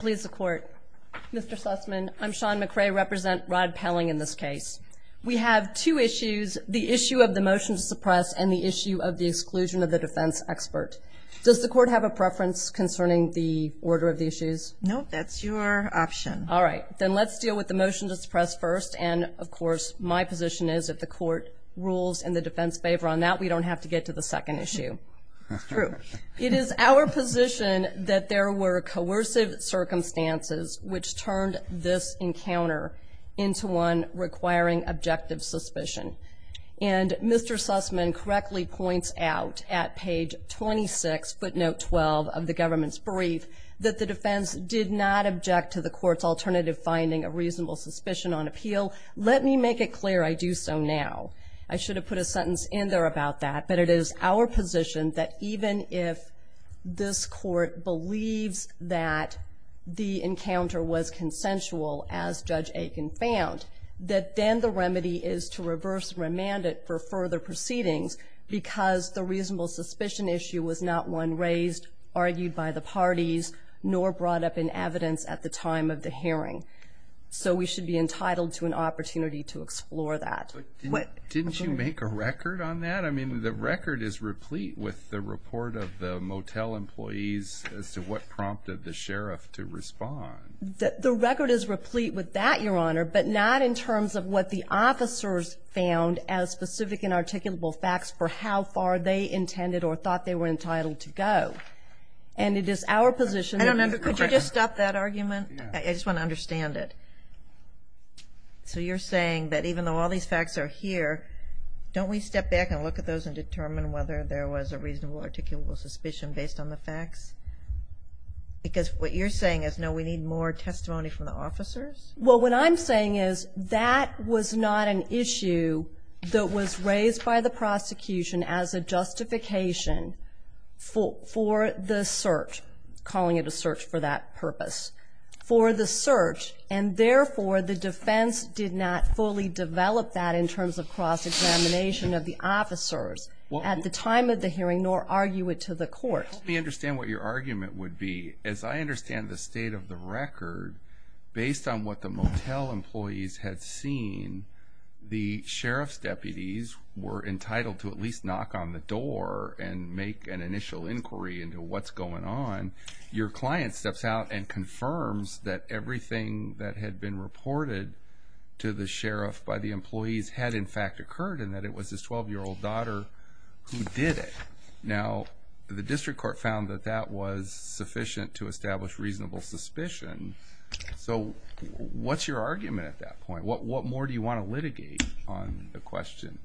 Please support Mr. Sussman. I'm Sean McRae represent Rod Pelling. In this case, we have two issues, the issue of the motion to suppress and the issue of the exclusion of the defense expert. Does the court have a preference concerning the order of the issues? No, that's your option. All right, then let's deal with the motion to suppress first. And of course, my position is that the court rules and the defense favor on that we don't have to get to the second issue. It's true. It is our position that there were coercive circumstances which turned this encounter into one requiring objective suspicion. And Mr. Sussman correctly points out at page 26, footnote 12 of the government's brief, that the defense did not object to the court's alternative finding of reasonable suspicion on appeal. Let me make it clear I do so now. I should have put a sentence in there about that, but it is our position that even if this court believes that the defense the encounter was consensual, as Judge Aiken found, that then the remedy is to reverse remand it for further proceedings because the reasonable suspicion issue was not one raised, argued by the parties, nor brought up in evidence at the time of the hearing. So we should be entitled to an opportunity to explore that. Didn't you make a record on that? I mean, the record is replete with the report of the motel employees as to what prompted the sheriff to respond. The record is replete with that, Your Honor, but not in terms of what the officers found as specific and articulable facts for how far they intended or thought they were entitled to go. And it is our position. Could you just stop that argument? I just want to understand it. So you're saying that even though all these facts are here, don't we step back and look at those and determine whether there was a reasonable articulable suspicion based on the facts? Because what you're saying is, no, we need more testimony from the officers? Well, what I'm saying is that was not an issue that was raised by the prosecution as a justification for the search, calling it a search for that purpose, for the search. And therefore, the defense did not fully develop that in terms of cross-examination of the officers at the time of the hearing, nor argue it to the court. Help me understand what your argument would be. As I understand the state of the record, based on what the motel employees had seen, the sheriff's deputies were entitled to at least knock on the door and make an initial inquiry into what's going on. Your client steps out and confirms that everything that had been reported to the sheriff by the employees had, in fact, occurred and that it was his 12-year-old daughter who did it. Now, the district court found that that was sufficient to establish reasonable suspicion. So, what's your argument at that point? What more do you want to litigate on the question?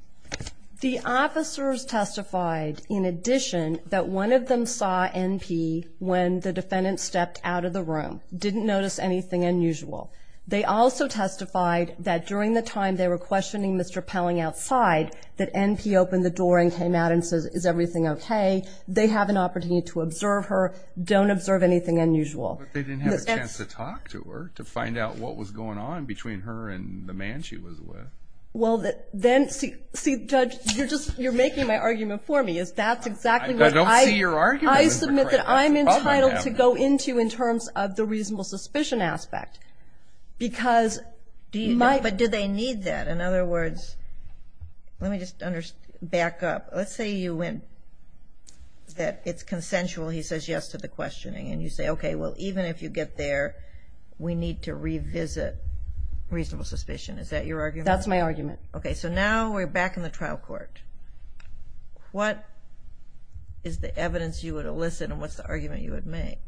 The officers testified, in addition, that one of them saw N.P. when the defendant stepped out of the room, didn't notice anything unusual. They also testified that during the time they were questioning Mr. Pelling outside, that N.P. opened the door and came out and said, is everything okay? They have an opportunity to observe her, don't observe anything unusual. But they didn't have a chance to talk to her, to find out what was going on between her and the man she was with. Well, then, see, Judge, you're making my argument for me, is that's exactly what I... I don't see your argument. I submit that I'm entitled to go into in terms of the reasonable suspicion aspect because... But do they need that? In other words, let me just back up. Let's say you went, that it's consensual, he says yes to the questioning, and you say, okay, well, even if you get there, we need to revisit reasonable suspicion. Is that your argument? That's my argument. Okay, so now we're back in the trial court. What is the evidence you would elicit and what's the argument you would make?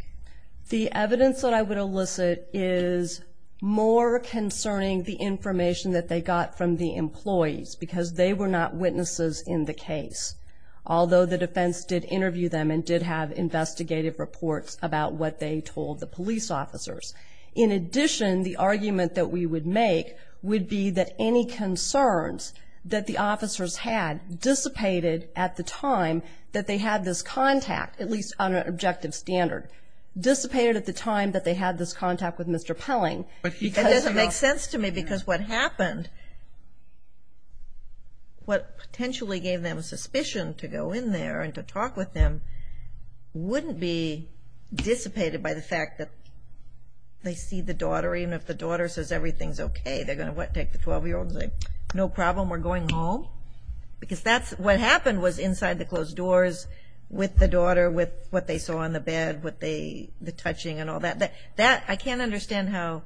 The evidence that I would elicit is more concerning the information that they got from the employees because they were not witnesses in the case. Although the defense did interview them and did have investigative reports about what they told the police officers. In addition, the argument that we would make would be that any concerns that the officers had dissipated at the time that they had this contact, at least on an objective standard, dissipated at the time that they had this contact with Mr. Pelling. It doesn't make sense to me because what happened, what potentially gave them suspicion to go in there and to talk with them wouldn't be dissipated by the fact that they see the daughter, even if the daughter says everything's okay, they're going to take the 12-year-old and say, no problem, we're going home. Because that's what happened was inside the closed doors with the daughter, with what they saw on the bed, with the touching and all that. I can't understand how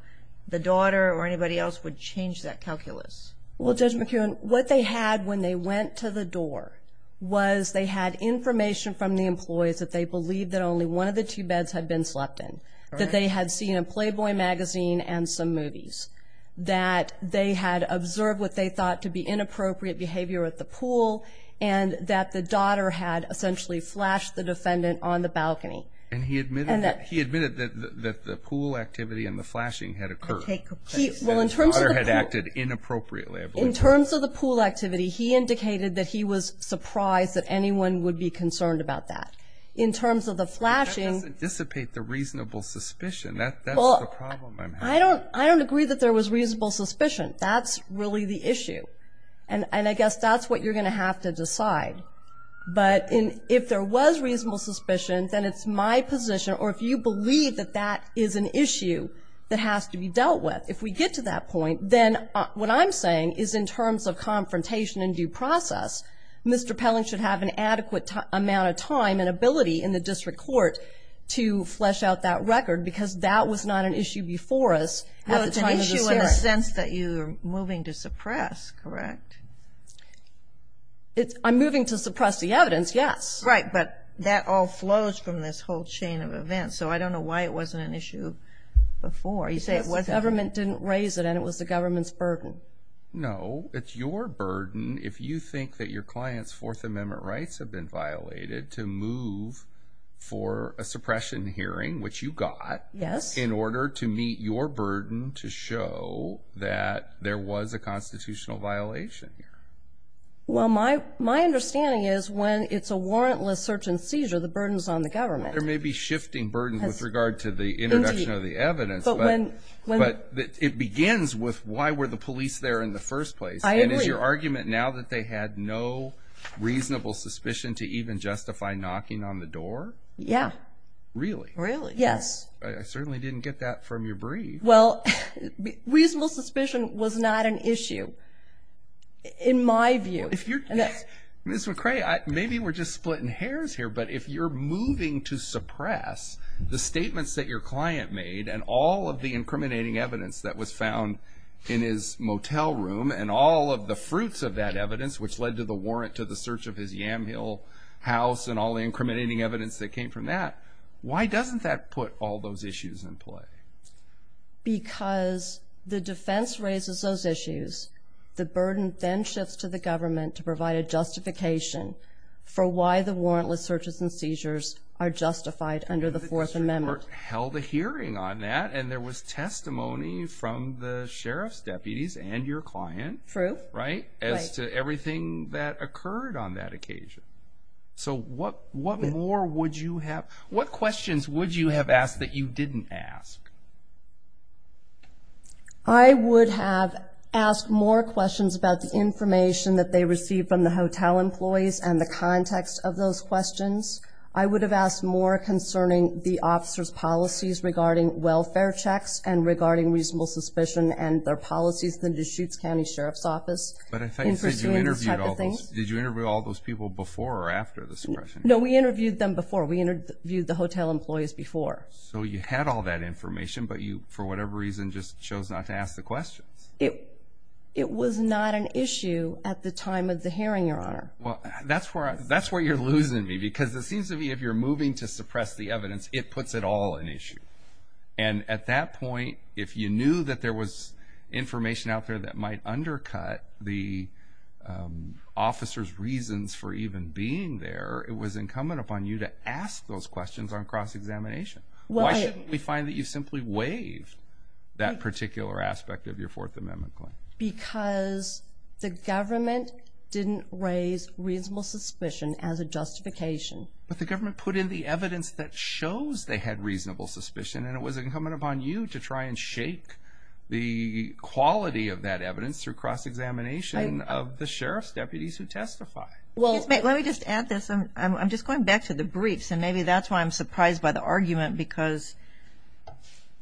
the daughter or anybody else would change that calculus. Well, Judge McKeown, what they had when they went to the door was they had information from the employees that they believed that only one of the two beds had been slept in. That they had seen a Playboy magazine and some movies. That they had observed what they thought to be inappropriate behavior at the pool and that the daughter had essentially flashed the defendant on the balcony. And he admitted that the pool activity and the flashing had occurred. The daughter had acted inappropriately, I believe. In terms of the pool activity, he indicated that he was surprised that anyone would be concerned about that. In terms of the flashing... But that doesn't dissipate the reasonable suspicion. That's the problem I'm having. Well, I don't agree that there was reasonable suspicion. That's really the issue. And I guess that's what you're going to have to decide. But if there was reasonable suspicion, then it's my position, or if you believe that that is an issue that has to be dealt with. If we get to that point, then what I'm saying is in terms of confrontation and due process, Mr. Pelling should have an adequate amount of time and ability in the district court to flesh out that record. Because that was not an issue before us at the time of the hearing. Well, it's an issue in the sense that you're moving to suppress, correct? I'm moving to suppress the evidence, yes. Right, but that all flows from this whole chain of events. So I don't know why it wasn't an issue before. You say the government didn't raise it and it was the government's burden. No, it's your burden if you think that your client's Fourth Amendment rights have been violated to move for a suppression hearing, which you got... Yes. ...in order to meet your burden to show that there was a constitutional violation here. Well, my understanding is when it's a warrantless search and seizure, the burden is on the government. There may be shifting burdens with regard to the introduction of the evidence. But when... But it begins with why were the police there in the first place? I agree. And is your argument now that they had no reasonable suspicion to even justify knocking on the door? Yeah. Really? Really, yes. I certainly didn't get that from your brief. Well, reasonable suspicion was not an issue in my view. Ms. McCray, maybe we're just splitting hairs here, but if you're moving to suppress the statements that your client made and all of the incriminating evidence that was found in his motel room and all of the fruits of that evidence, which led to the warrant to the search of his Yamhill house and all the incriminating evidence that came from that, why doesn't that put all those issues in play? Because the defense raises those issues. The burden then shifts to the government to provide a justification for why the warrantless searches and seizures are justified under the Fourth Amendment. The district court held a hearing on that, and there was testimony from the sheriff's deputies and your client. True. Right? Right. As to everything that occurred on that occasion. So what more would you have? What questions would you have asked that you didn't ask? I would have asked more questions about the information that they received from the hotel employees and the context of those questions. I would have asked more concerning the officer's policies regarding welfare checks and regarding reasonable suspicion and their policies in the Deschutes County Sheriff's Office. But I thought you said you interviewed all those people before or after the suppression. No, we interviewed them before. We interviewed the hotel employees before. So you had all that information, but you, for whatever reason, just chose not to ask the questions. It was not an issue at the time of the hearing, Your Honor. Well, that's where you're losing me, because it seems to me if you're moving to suppress the evidence, it puts it all in issue. And at that point, if you knew that there was information out there that might undercut the officer's reasons for even being there, it was incumbent upon you to ask those questions on cross-examination. Why shouldn't we find that you simply waived that particular aspect of your Fourth Amendment claim? Because the government didn't raise reasonable suspicion as a justification. But the government put in the evidence that shows they had reasonable suspicion, and it was incumbent upon you to try and shake the quality of that evidence through cross-examination of the sheriff's deputies who testify. Let me just add this. I'm just going back to the briefs, and maybe that's why I'm surprised by the argument, because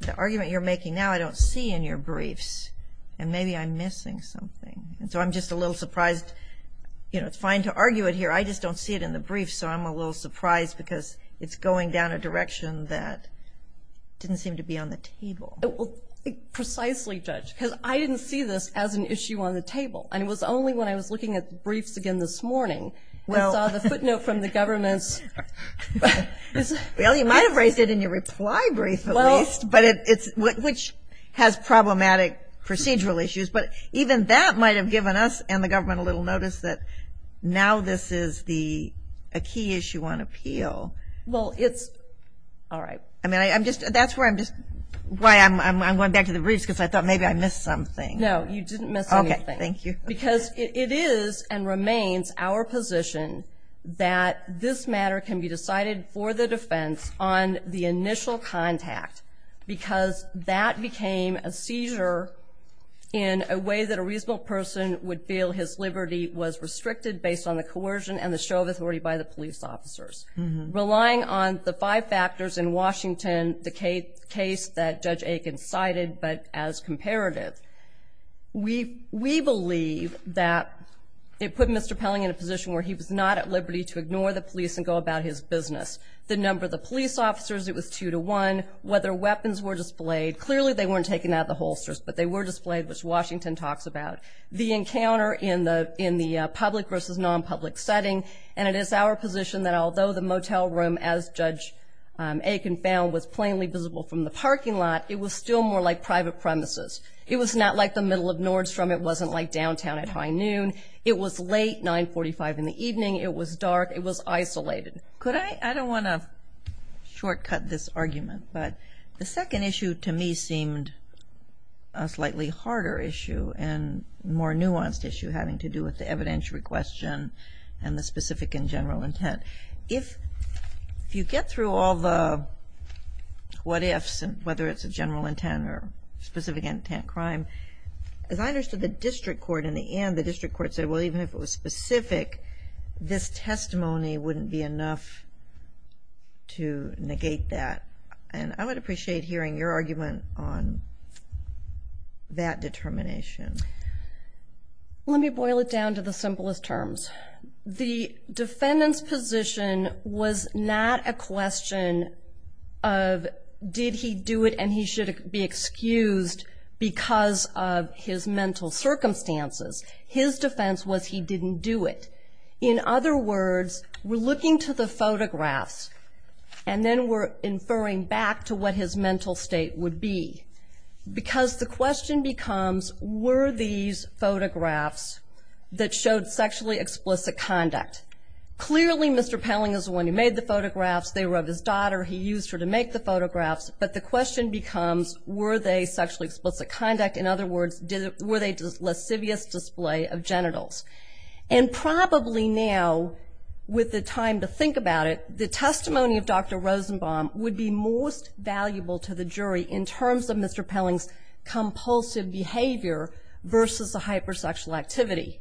the argument you're making now I don't see in your briefs, and maybe I'm missing something. So I'm just a little surprised. It's fine to argue it here. I just don't see it in the briefs, so I'm a little surprised because it's going down a direction that didn't seem to be on the table. Precisely, Judge, because I didn't see this as an issue on the table, and it was only when I was looking at the briefs again this morning that I saw the footnote from the government's. Well, you might have raised it in your reply brief at least, which has problematic procedural issues. But even that might have given us and the government a little notice that now this is a key issue on appeal. Well, it's all right. I mean, that's why I'm going back to the briefs, because I thought maybe I missed something. No, you didn't miss anything. Okay, thank you. Because it is and remains our position that this matter can be decided for the defense on the initial contact, because that became a seizure in a way that a reasonable person would feel his liberty was restricted based on the coercion and the show of authority by the police officers. Relying on the five factors in Washington, the case that Judge Aiken cited, but as comparative, we believe that it put Mr. Pelling in a position where he was not at liberty to ignore the police and go about his business. The number of the police officers, it was two to one. Whether weapons were displayed, clearly they weren't taken out of the holsters, but they were displayed, which Washington talks about. The encounter in the public versus non-public setting, and it is our position that although the motel room, as Judge Aiken found, was plainly visible from the parking lot, it was still more like private premises. It was not like the middle of Nordstrom. It wasn't like downtown at high noon. It was late, 945 in the evening. It was dark. It was isolated. Could I? I don't want to shortcut this argument, but the second issue to me seemed a slightly harder issue and more nuanced issue having to do with the evidentiary question and the specific and general intent. If you get through all the what ifs, whether it's a general intent or specific intent crime, as I understood the district court in the end, the district court said, well, even if it was specific, this testimony wouldn't be enough to negate that. And I would appreciate hearing your argument on that determination. Let me boil it down to the simplest terms. The defendant's position was not a question of did he do it and he should be excused because of his mental circumstances. His defense was he didn't do it. In other words, we're looking to the photographs and then we're inferring back to what his mental state would be because the question becomes, were these photographs that showed sexually explicit conduct? Clearly, Mr. Pelling is the one who made the photographs. They were of his daughter. He used her to make the photographs. But the question becomes, were they sexually explicit conduct? In other words, were they lascivious display of genitals? And probably now, with the time to think about it, the testimony of Dr. Rosenbaum would be most valuable to the jury in terms of Mr. Pelling's compulsive behavior versus the hypersexual activity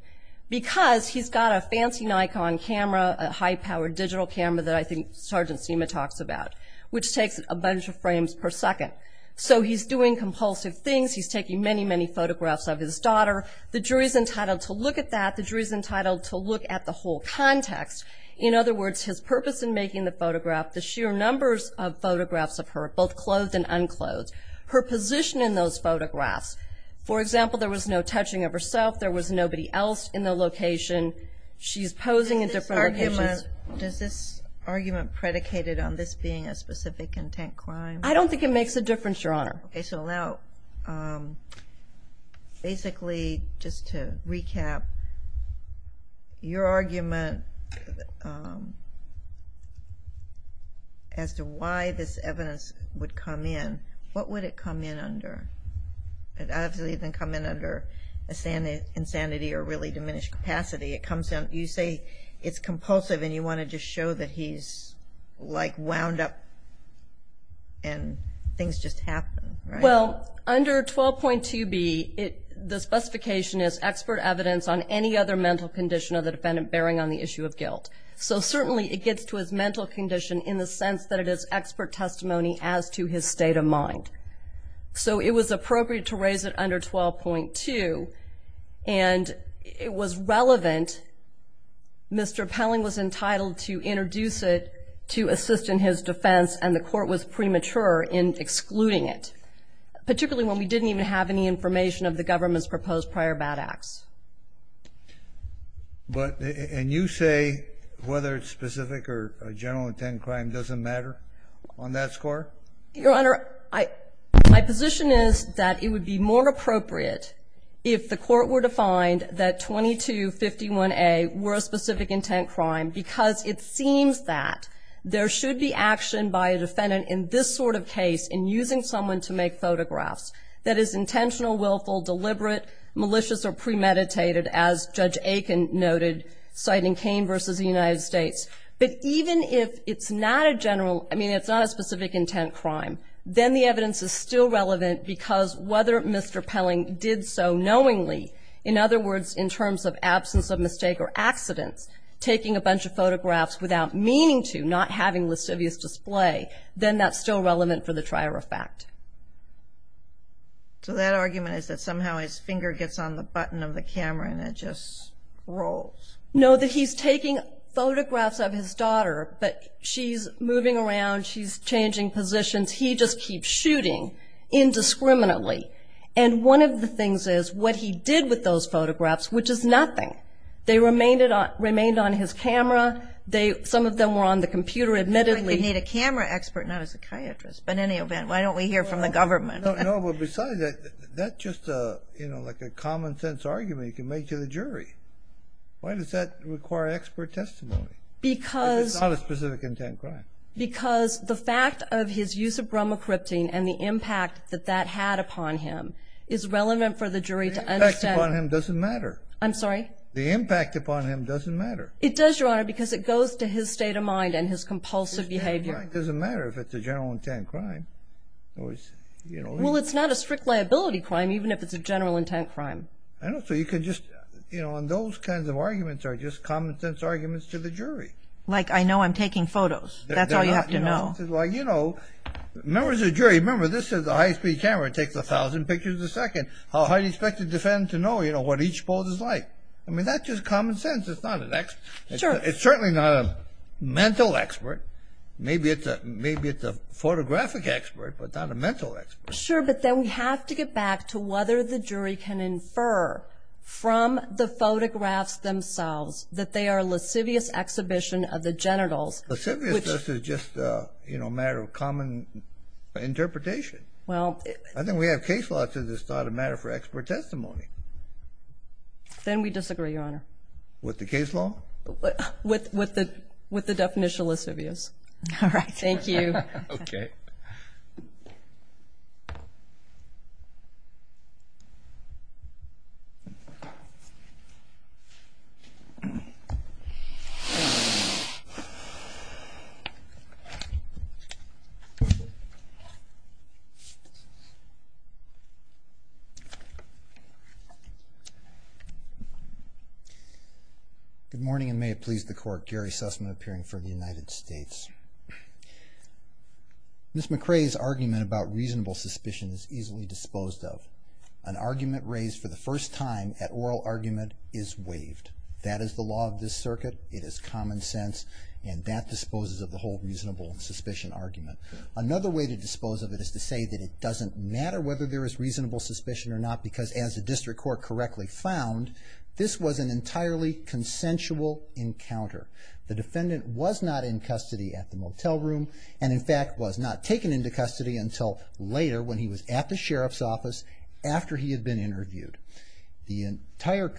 because he's got a fancy Nikon camera, a high-powered digital camera that I think Sergeant Seema talks about, which takes a bunch of frames per second. So he's doing compulsive things. He's taking many, many photographs of his daughter. The jury's entitled to look at that. The jury's entitled to look at the whole context. In other words, his purpose in making the photograph, the sheer numbers of photographs of her, both clothed and unclothed, her position in those photographs. For example, there was no touching of herself. There was nobody else in the location. She's posing in different locations. Does this argument predicated on this being a specific intent crime? I don't think it makes a difference, Your Honor. Okay, so now basically just to recap, your argument as to why this evidence would come in, what would it come in under? It obviously wouldn't come in under insanity or really diminished capacity. You say it's compulsive, and you want to just show that he's, like, wound up and things just happen, right? Well, under 12.2b, the specification is expert evidence on any other mental condition of the defendant bearing on the issue of guilt. So certainly it gets to his mental condition in the sense that it is expert testimony as to his state of mind. So it was appropriate to raise it under 12.2, and it was relevant. Mr. Pelling was entitled to introduce it to assist in his defense, and the Court was premature in excluding it, particularly when we didn't even have any information of the government's proposed prior bad acts. And you say whether it's specific or general intent crime doesn't matter on that score? Your Honor, my position is that it would be more appropriate if the Court were to find that 2251A were a specific intent crime because it seems that there should be action by a defendant in this sort of case in using someone to make photographs that is intentional, willful, deliberate, malicious, or premeditated, as Judge Aiken noted, citing Cain v. the United States. But even if it's not a general, I mean, it's not a specific intent crime, then the evidence is still relevant because whether Mr. Pelling did so knowingly, in other words, in terms of absence of mistake or accidents, taking a bunch of photographs without meaning to, not having lascivious display, then that's still relevant for the trier of fact. So that argument is that somehow his finger gets on the button of the camera and it just rolls. No, that he's taking photographs of his daughter, but she's moving around, she's changing positions, he just keeps shooting indiscriminately. And one of the things is what he did with those photographs, which is nothing, they remained on his camera. Some of them were on the computer, admittedly. You need a camera expert, not a psychiatrist, but in any event, why don't we hear from the government? No, but besides that, that's just like a common sense argument you can make to the jury. Why does that require expert testimony? It's not a specific intent crime. Because the fact of his use of bromocrypting and the impact that that had upon him is relevant for the jury to understand. The impact upon him doesn't matter. I'm sorry? The impact upon him doesn't matter. It does, Your Honor, because it goes to his state of mind and his compulsive behavior. His state of mind doesn't matter if it's a general intent crime. Well, it's not a strict liability crime, even if it's a general intent crime. I know, so you can just, you know, and those kinds of arguments are just common sense arguments to the jury. Like I know I'm taking photos. That's all you have to know. Well, you know, members of the jury, remember, this is a high-speed camera. It takes 1,000 pictures a second. How high do you expect the defendant to know, you know, what each pose is like? I mean, that's just common sense. It's not an expert. It's certainly not a mental expert. Maybe it's a photographic expert, but not a mental expert. Sure, but then we have to get back to whether the jury can infer from the photographs themselves that they are a lascivious exhibition of the genitals. Lassiviousness is just a matter of common interpretation. I think we have case law to this. It's not a matter for expert testimony. Then we disagree, Your Honor. With the case law? With the definition of lascivious. All right. Thank you. Okay. Thank you. Good morning, and may it please the Court. Gary Sussman appearing for the United States. Ms. McRae's argument about reasonable suspicion is easily disposed of. An argument raised for the first time at oral argument is waived. That is the law of this circuit. It is common sense, and that disposes of the whole reasonable suspicion argument. Another way to dispose of it is to say that it doesn't matter whether there is reasonable suspicion or not, because as the district court correctly found, this was an entirely consensual encounter. The defendant was not in custody at the motel room and, in fact, was not taken into custody until later when he was at the sheriff's office after he had been interviewed. The entire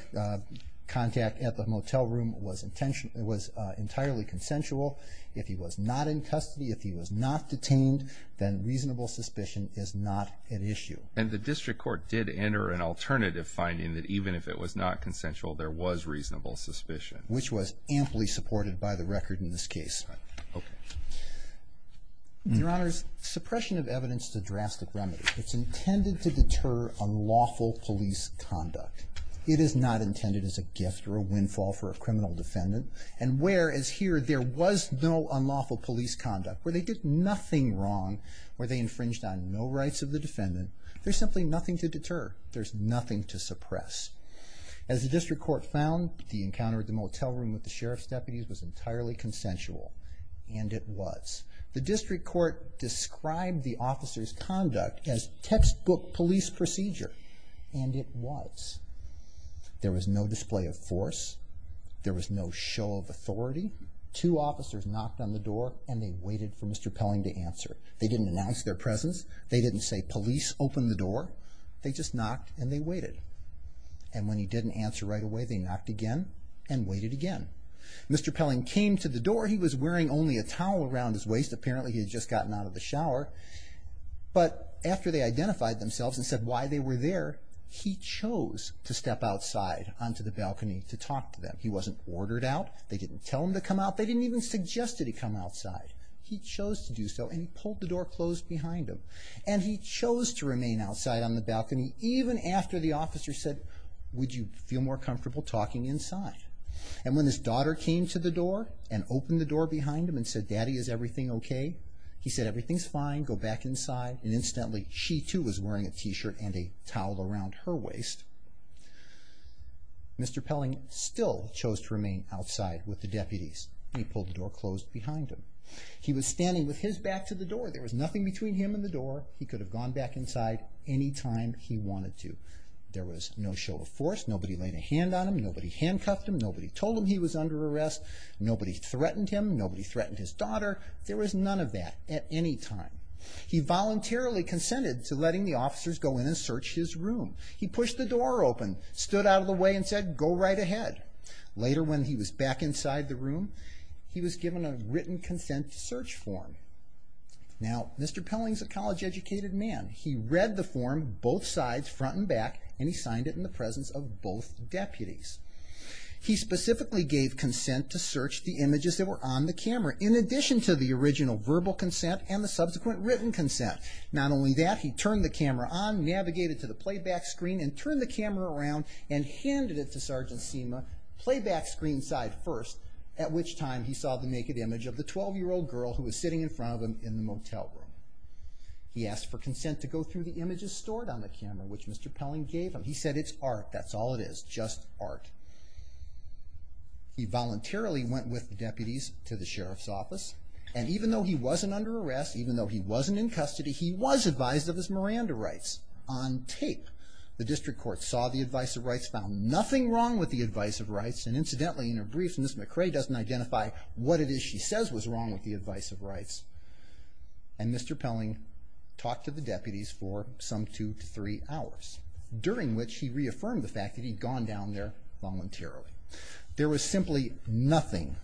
contact at the motel room was entirely consensual. If he was not in custody, if he was not detained, then reasonable suspicion is not an issue. And the district court did enter an alternative finding that even if it was not consensual, there was reasonable suspicion. Which was amply supported by the record in this case. Right. Okay. Your Honors, suppression of evidence is a drastic remedy. It's intended to deter unlawful police conduct. It is not intended as a gift or a windfall for a criminal defendant. And whereas here there was no unlawful police conduct, where they did nothing wrong, where they infringed on no rights of the defendant, there's simply nothing to deter. There's nothing to suppress. As the district court found, the encounter at the motel room with the sheriff's deputies was entirely consensual. And it was. The district court described the officer's conduct as textbook police procedure. And it was. There was no display of force. There was no show of authority. Two officers knocked on the door and they waited for Mr. Pelling to answer. They didn't announce their presence. They didn't say, police, open the door. They just knocked and they waited. And when he didn't answer right away, they knocked again and waited again. Mr. Pelling came to the door. He was wearing only a towel around his waist. Apparently he had just gotten out of the shower. But after they identified themselves and said why they were there, he chose to step outside onto the balcony to talk to them. He wasn't ordered out. They didn't tell him to come out. They didn't even suggest that he come outside. He chose to do so and he pulled the door closed behind him. And he chose to remain outside on the balcony even after the officer said, would you feel more comfortable talking inside? And when his daughter came to the door and opened the door behind him and said, Daddy, is everything okay? He said, everything's fine. Go back inside. And instantly she, too, was wearing a T-shirt and a towel around her waist. Mr. Pelling still chose to remain outside with the deputies. He pulled the door closed behind him. He was standing with his back to the door. There was nothing between him and the door. He could have gone back inside any time he wanted to. There was no show of force. Nobody laid a hand on him. Nobody handcuffed him. Nobody told him he was under arrest. Nobody threatened him. Nobody threatened his daughter. There was none of that at any time. He voluntarily consented to letting the officers go in and search his room. He pushed the door open, stood out of the way, and said, go right ahead. Later, when he was back inside the room, he was given a written consent search form. Now, Mr. Pelling's a college-educated man. He read the form, both sides, front and back, and he signed it in the presence of both deputies. He specifically gave consent to search the images that were on the camera in addition to the original verbal consent and the subsequent written consent. Not only that, he turned the camera on, navigated to the playback screen, and turned the camera around and handed it to Sergeant Seema, playback screen side first, at which time he saw the naked image of the 12-year-old girl who was sitting in front of him in the motel room. He asked for consent to go through the images stored on the camera, which Mr. Pelling gave him. He said, it's art. That's all it is, just art. He voluntarily went with the deputies to the sheriff's office, and even though he wasn't under arrest, even though he wasn't in custody, he was advised of his Miranda rights on tape. The district court saw the advice of rights, found nothing wrong with the advice of rights, and incidentally in her briefs, Ms. McRae doesn't identify what it is she says was wrong with the advice of rights. And Mr. Pelling talked to the deputies for some two to three hours, during which he reaffirmed the fact that he'd gone down there voluntarily. There was simply nothing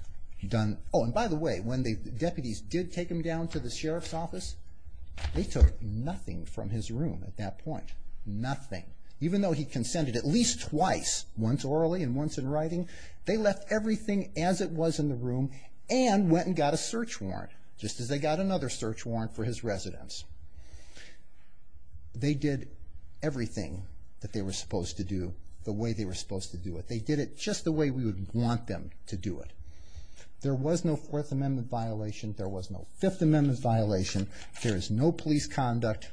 done. Oh, and by the way, when the deputies did take him down to the sheriff's office, they took nothing from his room at that point. Nothing. Even though he consented at least twice, once orally and once in writing, they left everything as it was in the room and went and got a search warrant, just as they got another search warrant for his residence. They did everything that they were supposed to do the way they were supposed to do it. They did it just the way we would want them to do it. There was no Fourth Amendment violation. There was no Fifth Amendment violation. There is no police conduct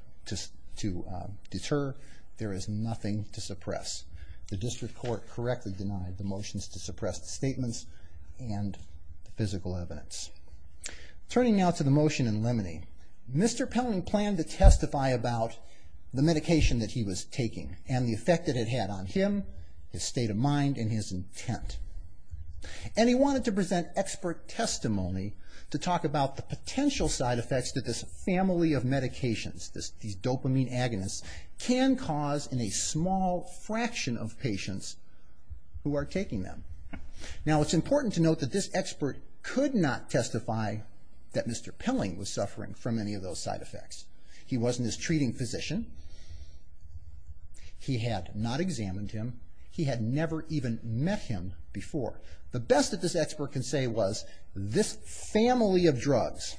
to deter. There is nothing to suppress. The district court correctly denied the motions to suppress the statements and the physical evidence. Turning now to the motion in limine. Mr. Pelling planned to testify about the medication that he was taking and the effect it had on him, his state of mind, and his intent. And he wanted to present expert testimony to talk about the potential side effects that this family of medications, these dopamine agonists, can cause in a small fraction of patients who are taking them. Now, it's important to note that this expert could not testify that Mr. Pelling was suffering from any of those side effects. He wasn't his treating physician. He had not examined him. He had never even met him before. However, the best that this expert can say was, this family of drugs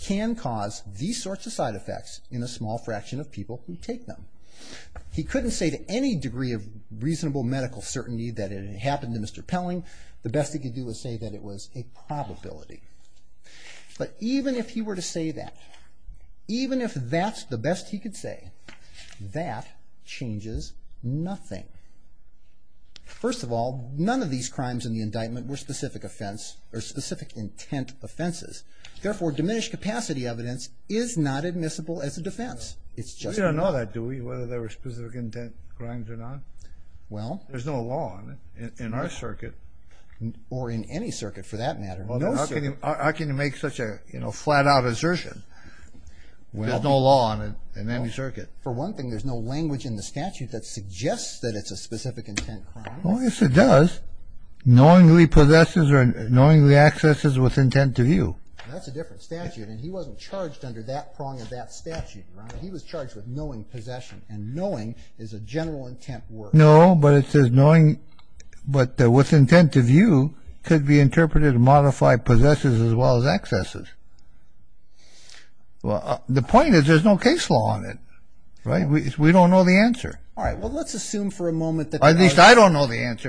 can cause these sorts of side effects in a small fraction of people who take them. He couldn't say to any degree of reasonable medical certainty that it had happened to Mr. Pelling. The best he could do was say that it was a probability. But even if he were to say that, even if that's the best he could say, that changes nothing. First of all, none of these crimes in the indictment were specific offense, or specific intent offenses. Therefore, diminished capacity evidence is not admissible as a defense. You don't know that, do we, whether there were specific intent crimes or not? Well... There's no law on it in our circuit. Or in any circuit, for that matter. How can you make such a flat-out assertion? There's no law on it in any circuit. For one thing, there's no language in the statute that suggests that it's a specific intent crime. Oh, yes, it does. Knowingly possesses or knowingly accesses with intent to view. That's a different statute. And he wasn't charged under that prong of that statute. He was charged with knowing possession. And knowing is a general intent word. No, but it says knowing... But with intent to view, could be interpreted to modify possesses as well as accesses. Well, the point is there's no case law on it. Right? We don't know the answer. All right. Well, let's assume for a moment that... At least I don't know the answer.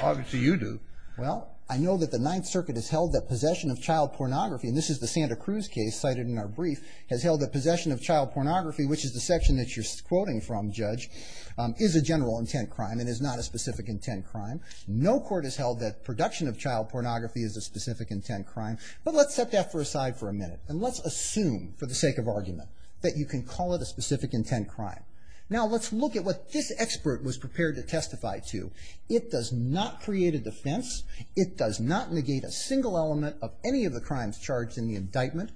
Obviously, you do. Well, I know that the Ninth Circuit has held that possession of child pornography, and this is the Santa Cruz case cited in our brief, has held that possession of child pornography, which is the section that you're quoting from, Judge, is a general intent crime and is not a specific intent crime. No court has held that production of child pornography is a specific intent crime. But let's set that aside for a minute, and let's assume, for the sake of argument, that you can call it a specific intent crime. Now, let's look at what this expert was prepared to testify to. It does not create a defense. It does not negate a single element of any of the crimes charged in the indictment.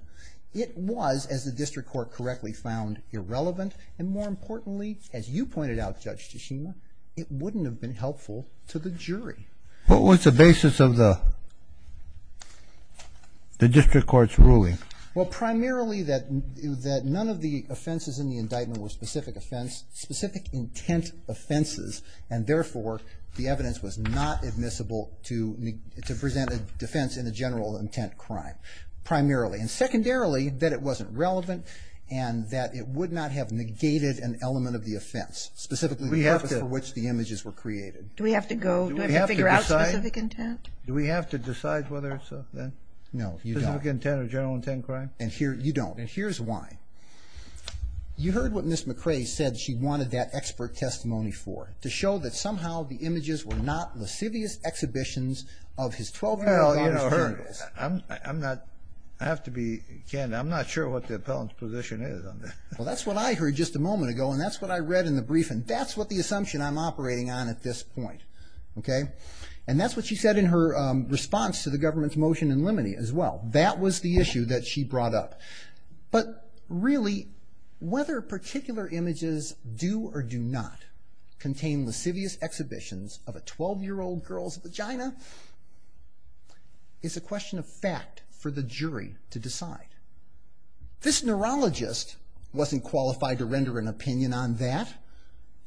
It was, as the district court correctly found, irrelevant. And more importantly, as you pointed out, Judge Tashima, it wouldn't have been helpful to the jury. What was the basis of the district court's ruling? Well, primarily that none of the offenses in the indictment were specific offense, specific intent offenses, and therefore the evidence was not admissible to present a defense in a general intent crime, primarily. And secondarily, that it wasn't relevant and that it would not have negated an element of the offense, specifically the purpose for which the images were created. Do we have to go figure out specific intent? Do we have to decide whether it's a specific intent or general intent crime? No, you don't. And here's why. You heard what Ms. McRae said she wanted that expert testimony for, to show that somehow the images were not lascivious exhibitions of his 12-year-old daughter's journals. I have to be candid. I'm not sure what the appellant's position is on that. Well, that's what I heard just a moment ago, and that's what I read in the briefing. That's what the assumption I'm operating on at this point. Okay? And that's what she said in her response to the government's motion in limine as well. That was the issue that she brought up. But really, whether particular images do or do not contain lascivious exhibitions of a 12-year-old girl's vagina is a question of fact for the jury to decide. This neurologist wasn't qualified to render an opinion on that.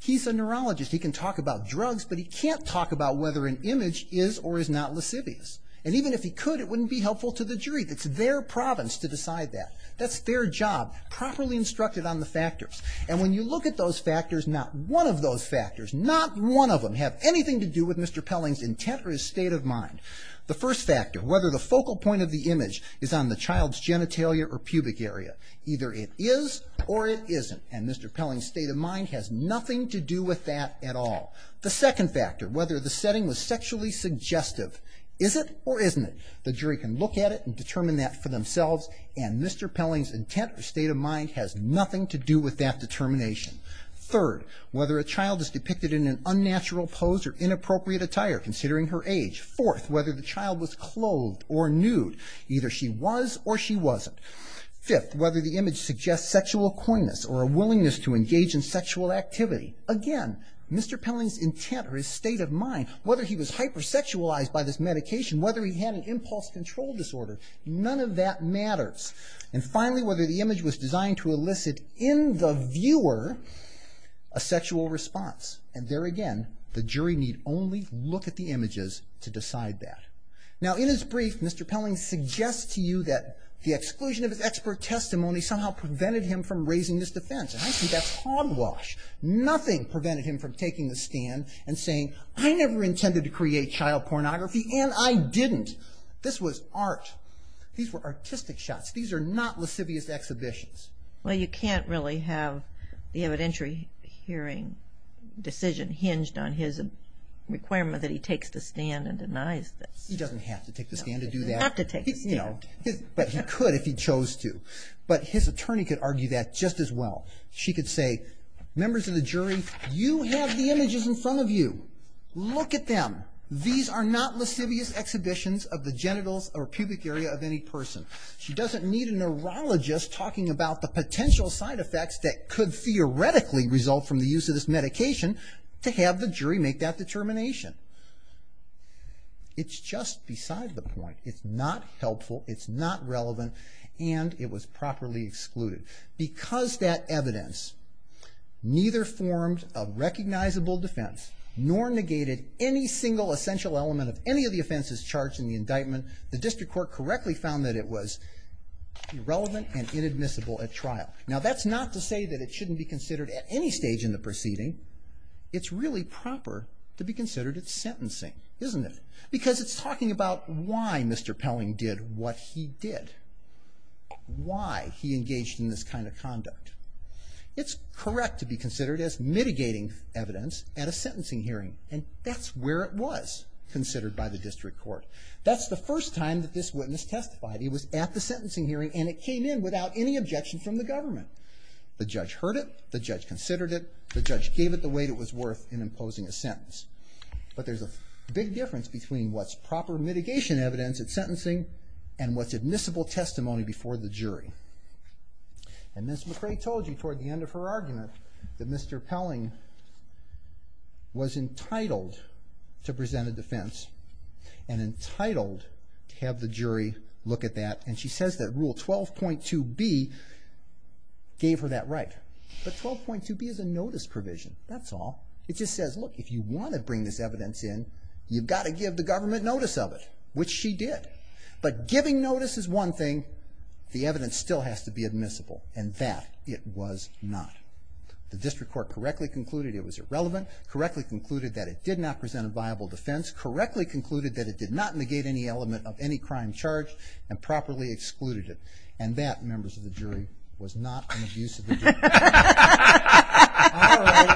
He's a neurologist. He can talk about drugs, but he can't talk about whether an image is or is not lascivious. And even if he could, it wouldn't be helpful to the jury. It's their province to decide that. That's their job, properly instructed on the factors. And when you look at those factors, not one of those factors, not one of them have anything to do with Mr. Pelling's intent or his state of mind. The first factor, whether the focal point of the image is on the child's genitalia or pubic area. Either it is or it isn't. And Mr. Pelling's state of mind has nothing to do with that at all. The second factor, whether the setting was sexually suggestive. Is it or isn't it? The jury can look at it and determine that for themselves. And Mr. Pelling's intent or state of mind has nothing to do with that determination. Third, whether a child is depicted in an unnatural pose or inappropriate attire, considering her age. Fourth, whether the child was clothed or nude. Either she was or she wasn't. Fifth, whether the image suggests sexual coyness or a willingness to engage in sexual activity. Again, Mr. Pelling's intent or his state of mind, whether he was hypersexualized by this medication, whether he had an impulse control disorder, none of that matters. And finally, whether the image was designed to elicit in the viewer a sexual response. And there again, the jury need only look at the images to decide that. Now, in his brief, Mr. Pelling suggests to you that the exclusion of his expert testimony somehow prevented him from raising his defense. And I see that's hogwash. Nothing prevented him from taking the stand and saying, I never intended to create child pornography and I didn't. This was art. These were artistic shots. These are not lascivious exhibitions. Well, you can't really have the evidentiary hearing decision hinged on his requirement that he takes the stand and denies this. He doesn't have to take the stand to do that. He'd have to take the stand. But he could if he chose to. But his attorney could argue that just as well. She could say, members of the jury, you have the images in front of you. Look at them. These are not lascivious exhibitions of the genitals or pubic area of any person. She doesn't need a neurologist talking about the potential side effects that could theoretically result from the use of this medication to have the jury make that determination. It's just beside the point. It's not helpful. It's not relevant. And it was properly excluded. Because that evidence neither formed a recognizable defense nor negated any single essential element of any of the offenses charged in the indictment, the evidence was irrelevant and inadmissible at trial. Now, that's not to say that it shouldn't be considered at any stage in the proceeding. It's really proper to be considered at sentencing, isn't it? Because it's talking about why Mr. Pelling did what he did, why he engaged in this kind of conduct. It's correct to be considered as mitigating evidence at a sentencing hearing. And that's where it was considered by the district court. That's the first time that this witness testified. He was at the sentencing hearing, and it came in without any objection from the government. The judge heard it. The judge considered it. The judge gave it the weight it was worth in imposing a sentence. But there's a big difference between what's proper mitigation evidence at sentencing and what's admissible testimony before the jury. And Ms. McRae told you toward the end of her argument that Mr. Pelling was that Rule 12.2B gave her that right. But 12.2B is a notice provision. That's all. It just says, look, if you want to bring this evidence in, you've got to give the government notice of it, which she did. But giving notice is one thing. The evidence still has to be admissible. And that it was not. The district court correctly concluded it was irrelevant, correctly concluded that it did not present a viable defense, correctly concluded that it did not properly excluded it. And that, members of the jury, was not an abuse of the jury. All right.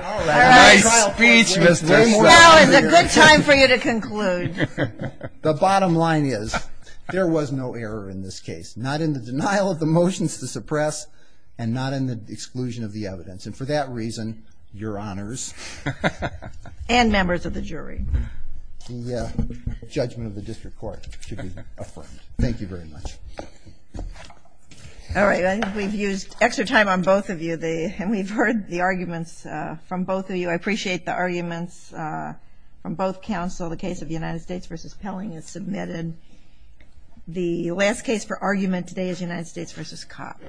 All right. Nice speech, Mr. Pelling. Well, it's a good time for you to conclude. The bottom line is there was no error in this case, not in the denial of the motions to suppress and not in the exclusion of the evidence. And for that reason, your honors. And members of the jury. The judgment of the district court should be affirmed. Thank you very much. All right. We've used extra time on both of you. And we've heard the arguments from both of you. I appreciate the arguments from both counsel. The case of United States v. Pelling is submitted. The last case for argument today is United States v. Copp.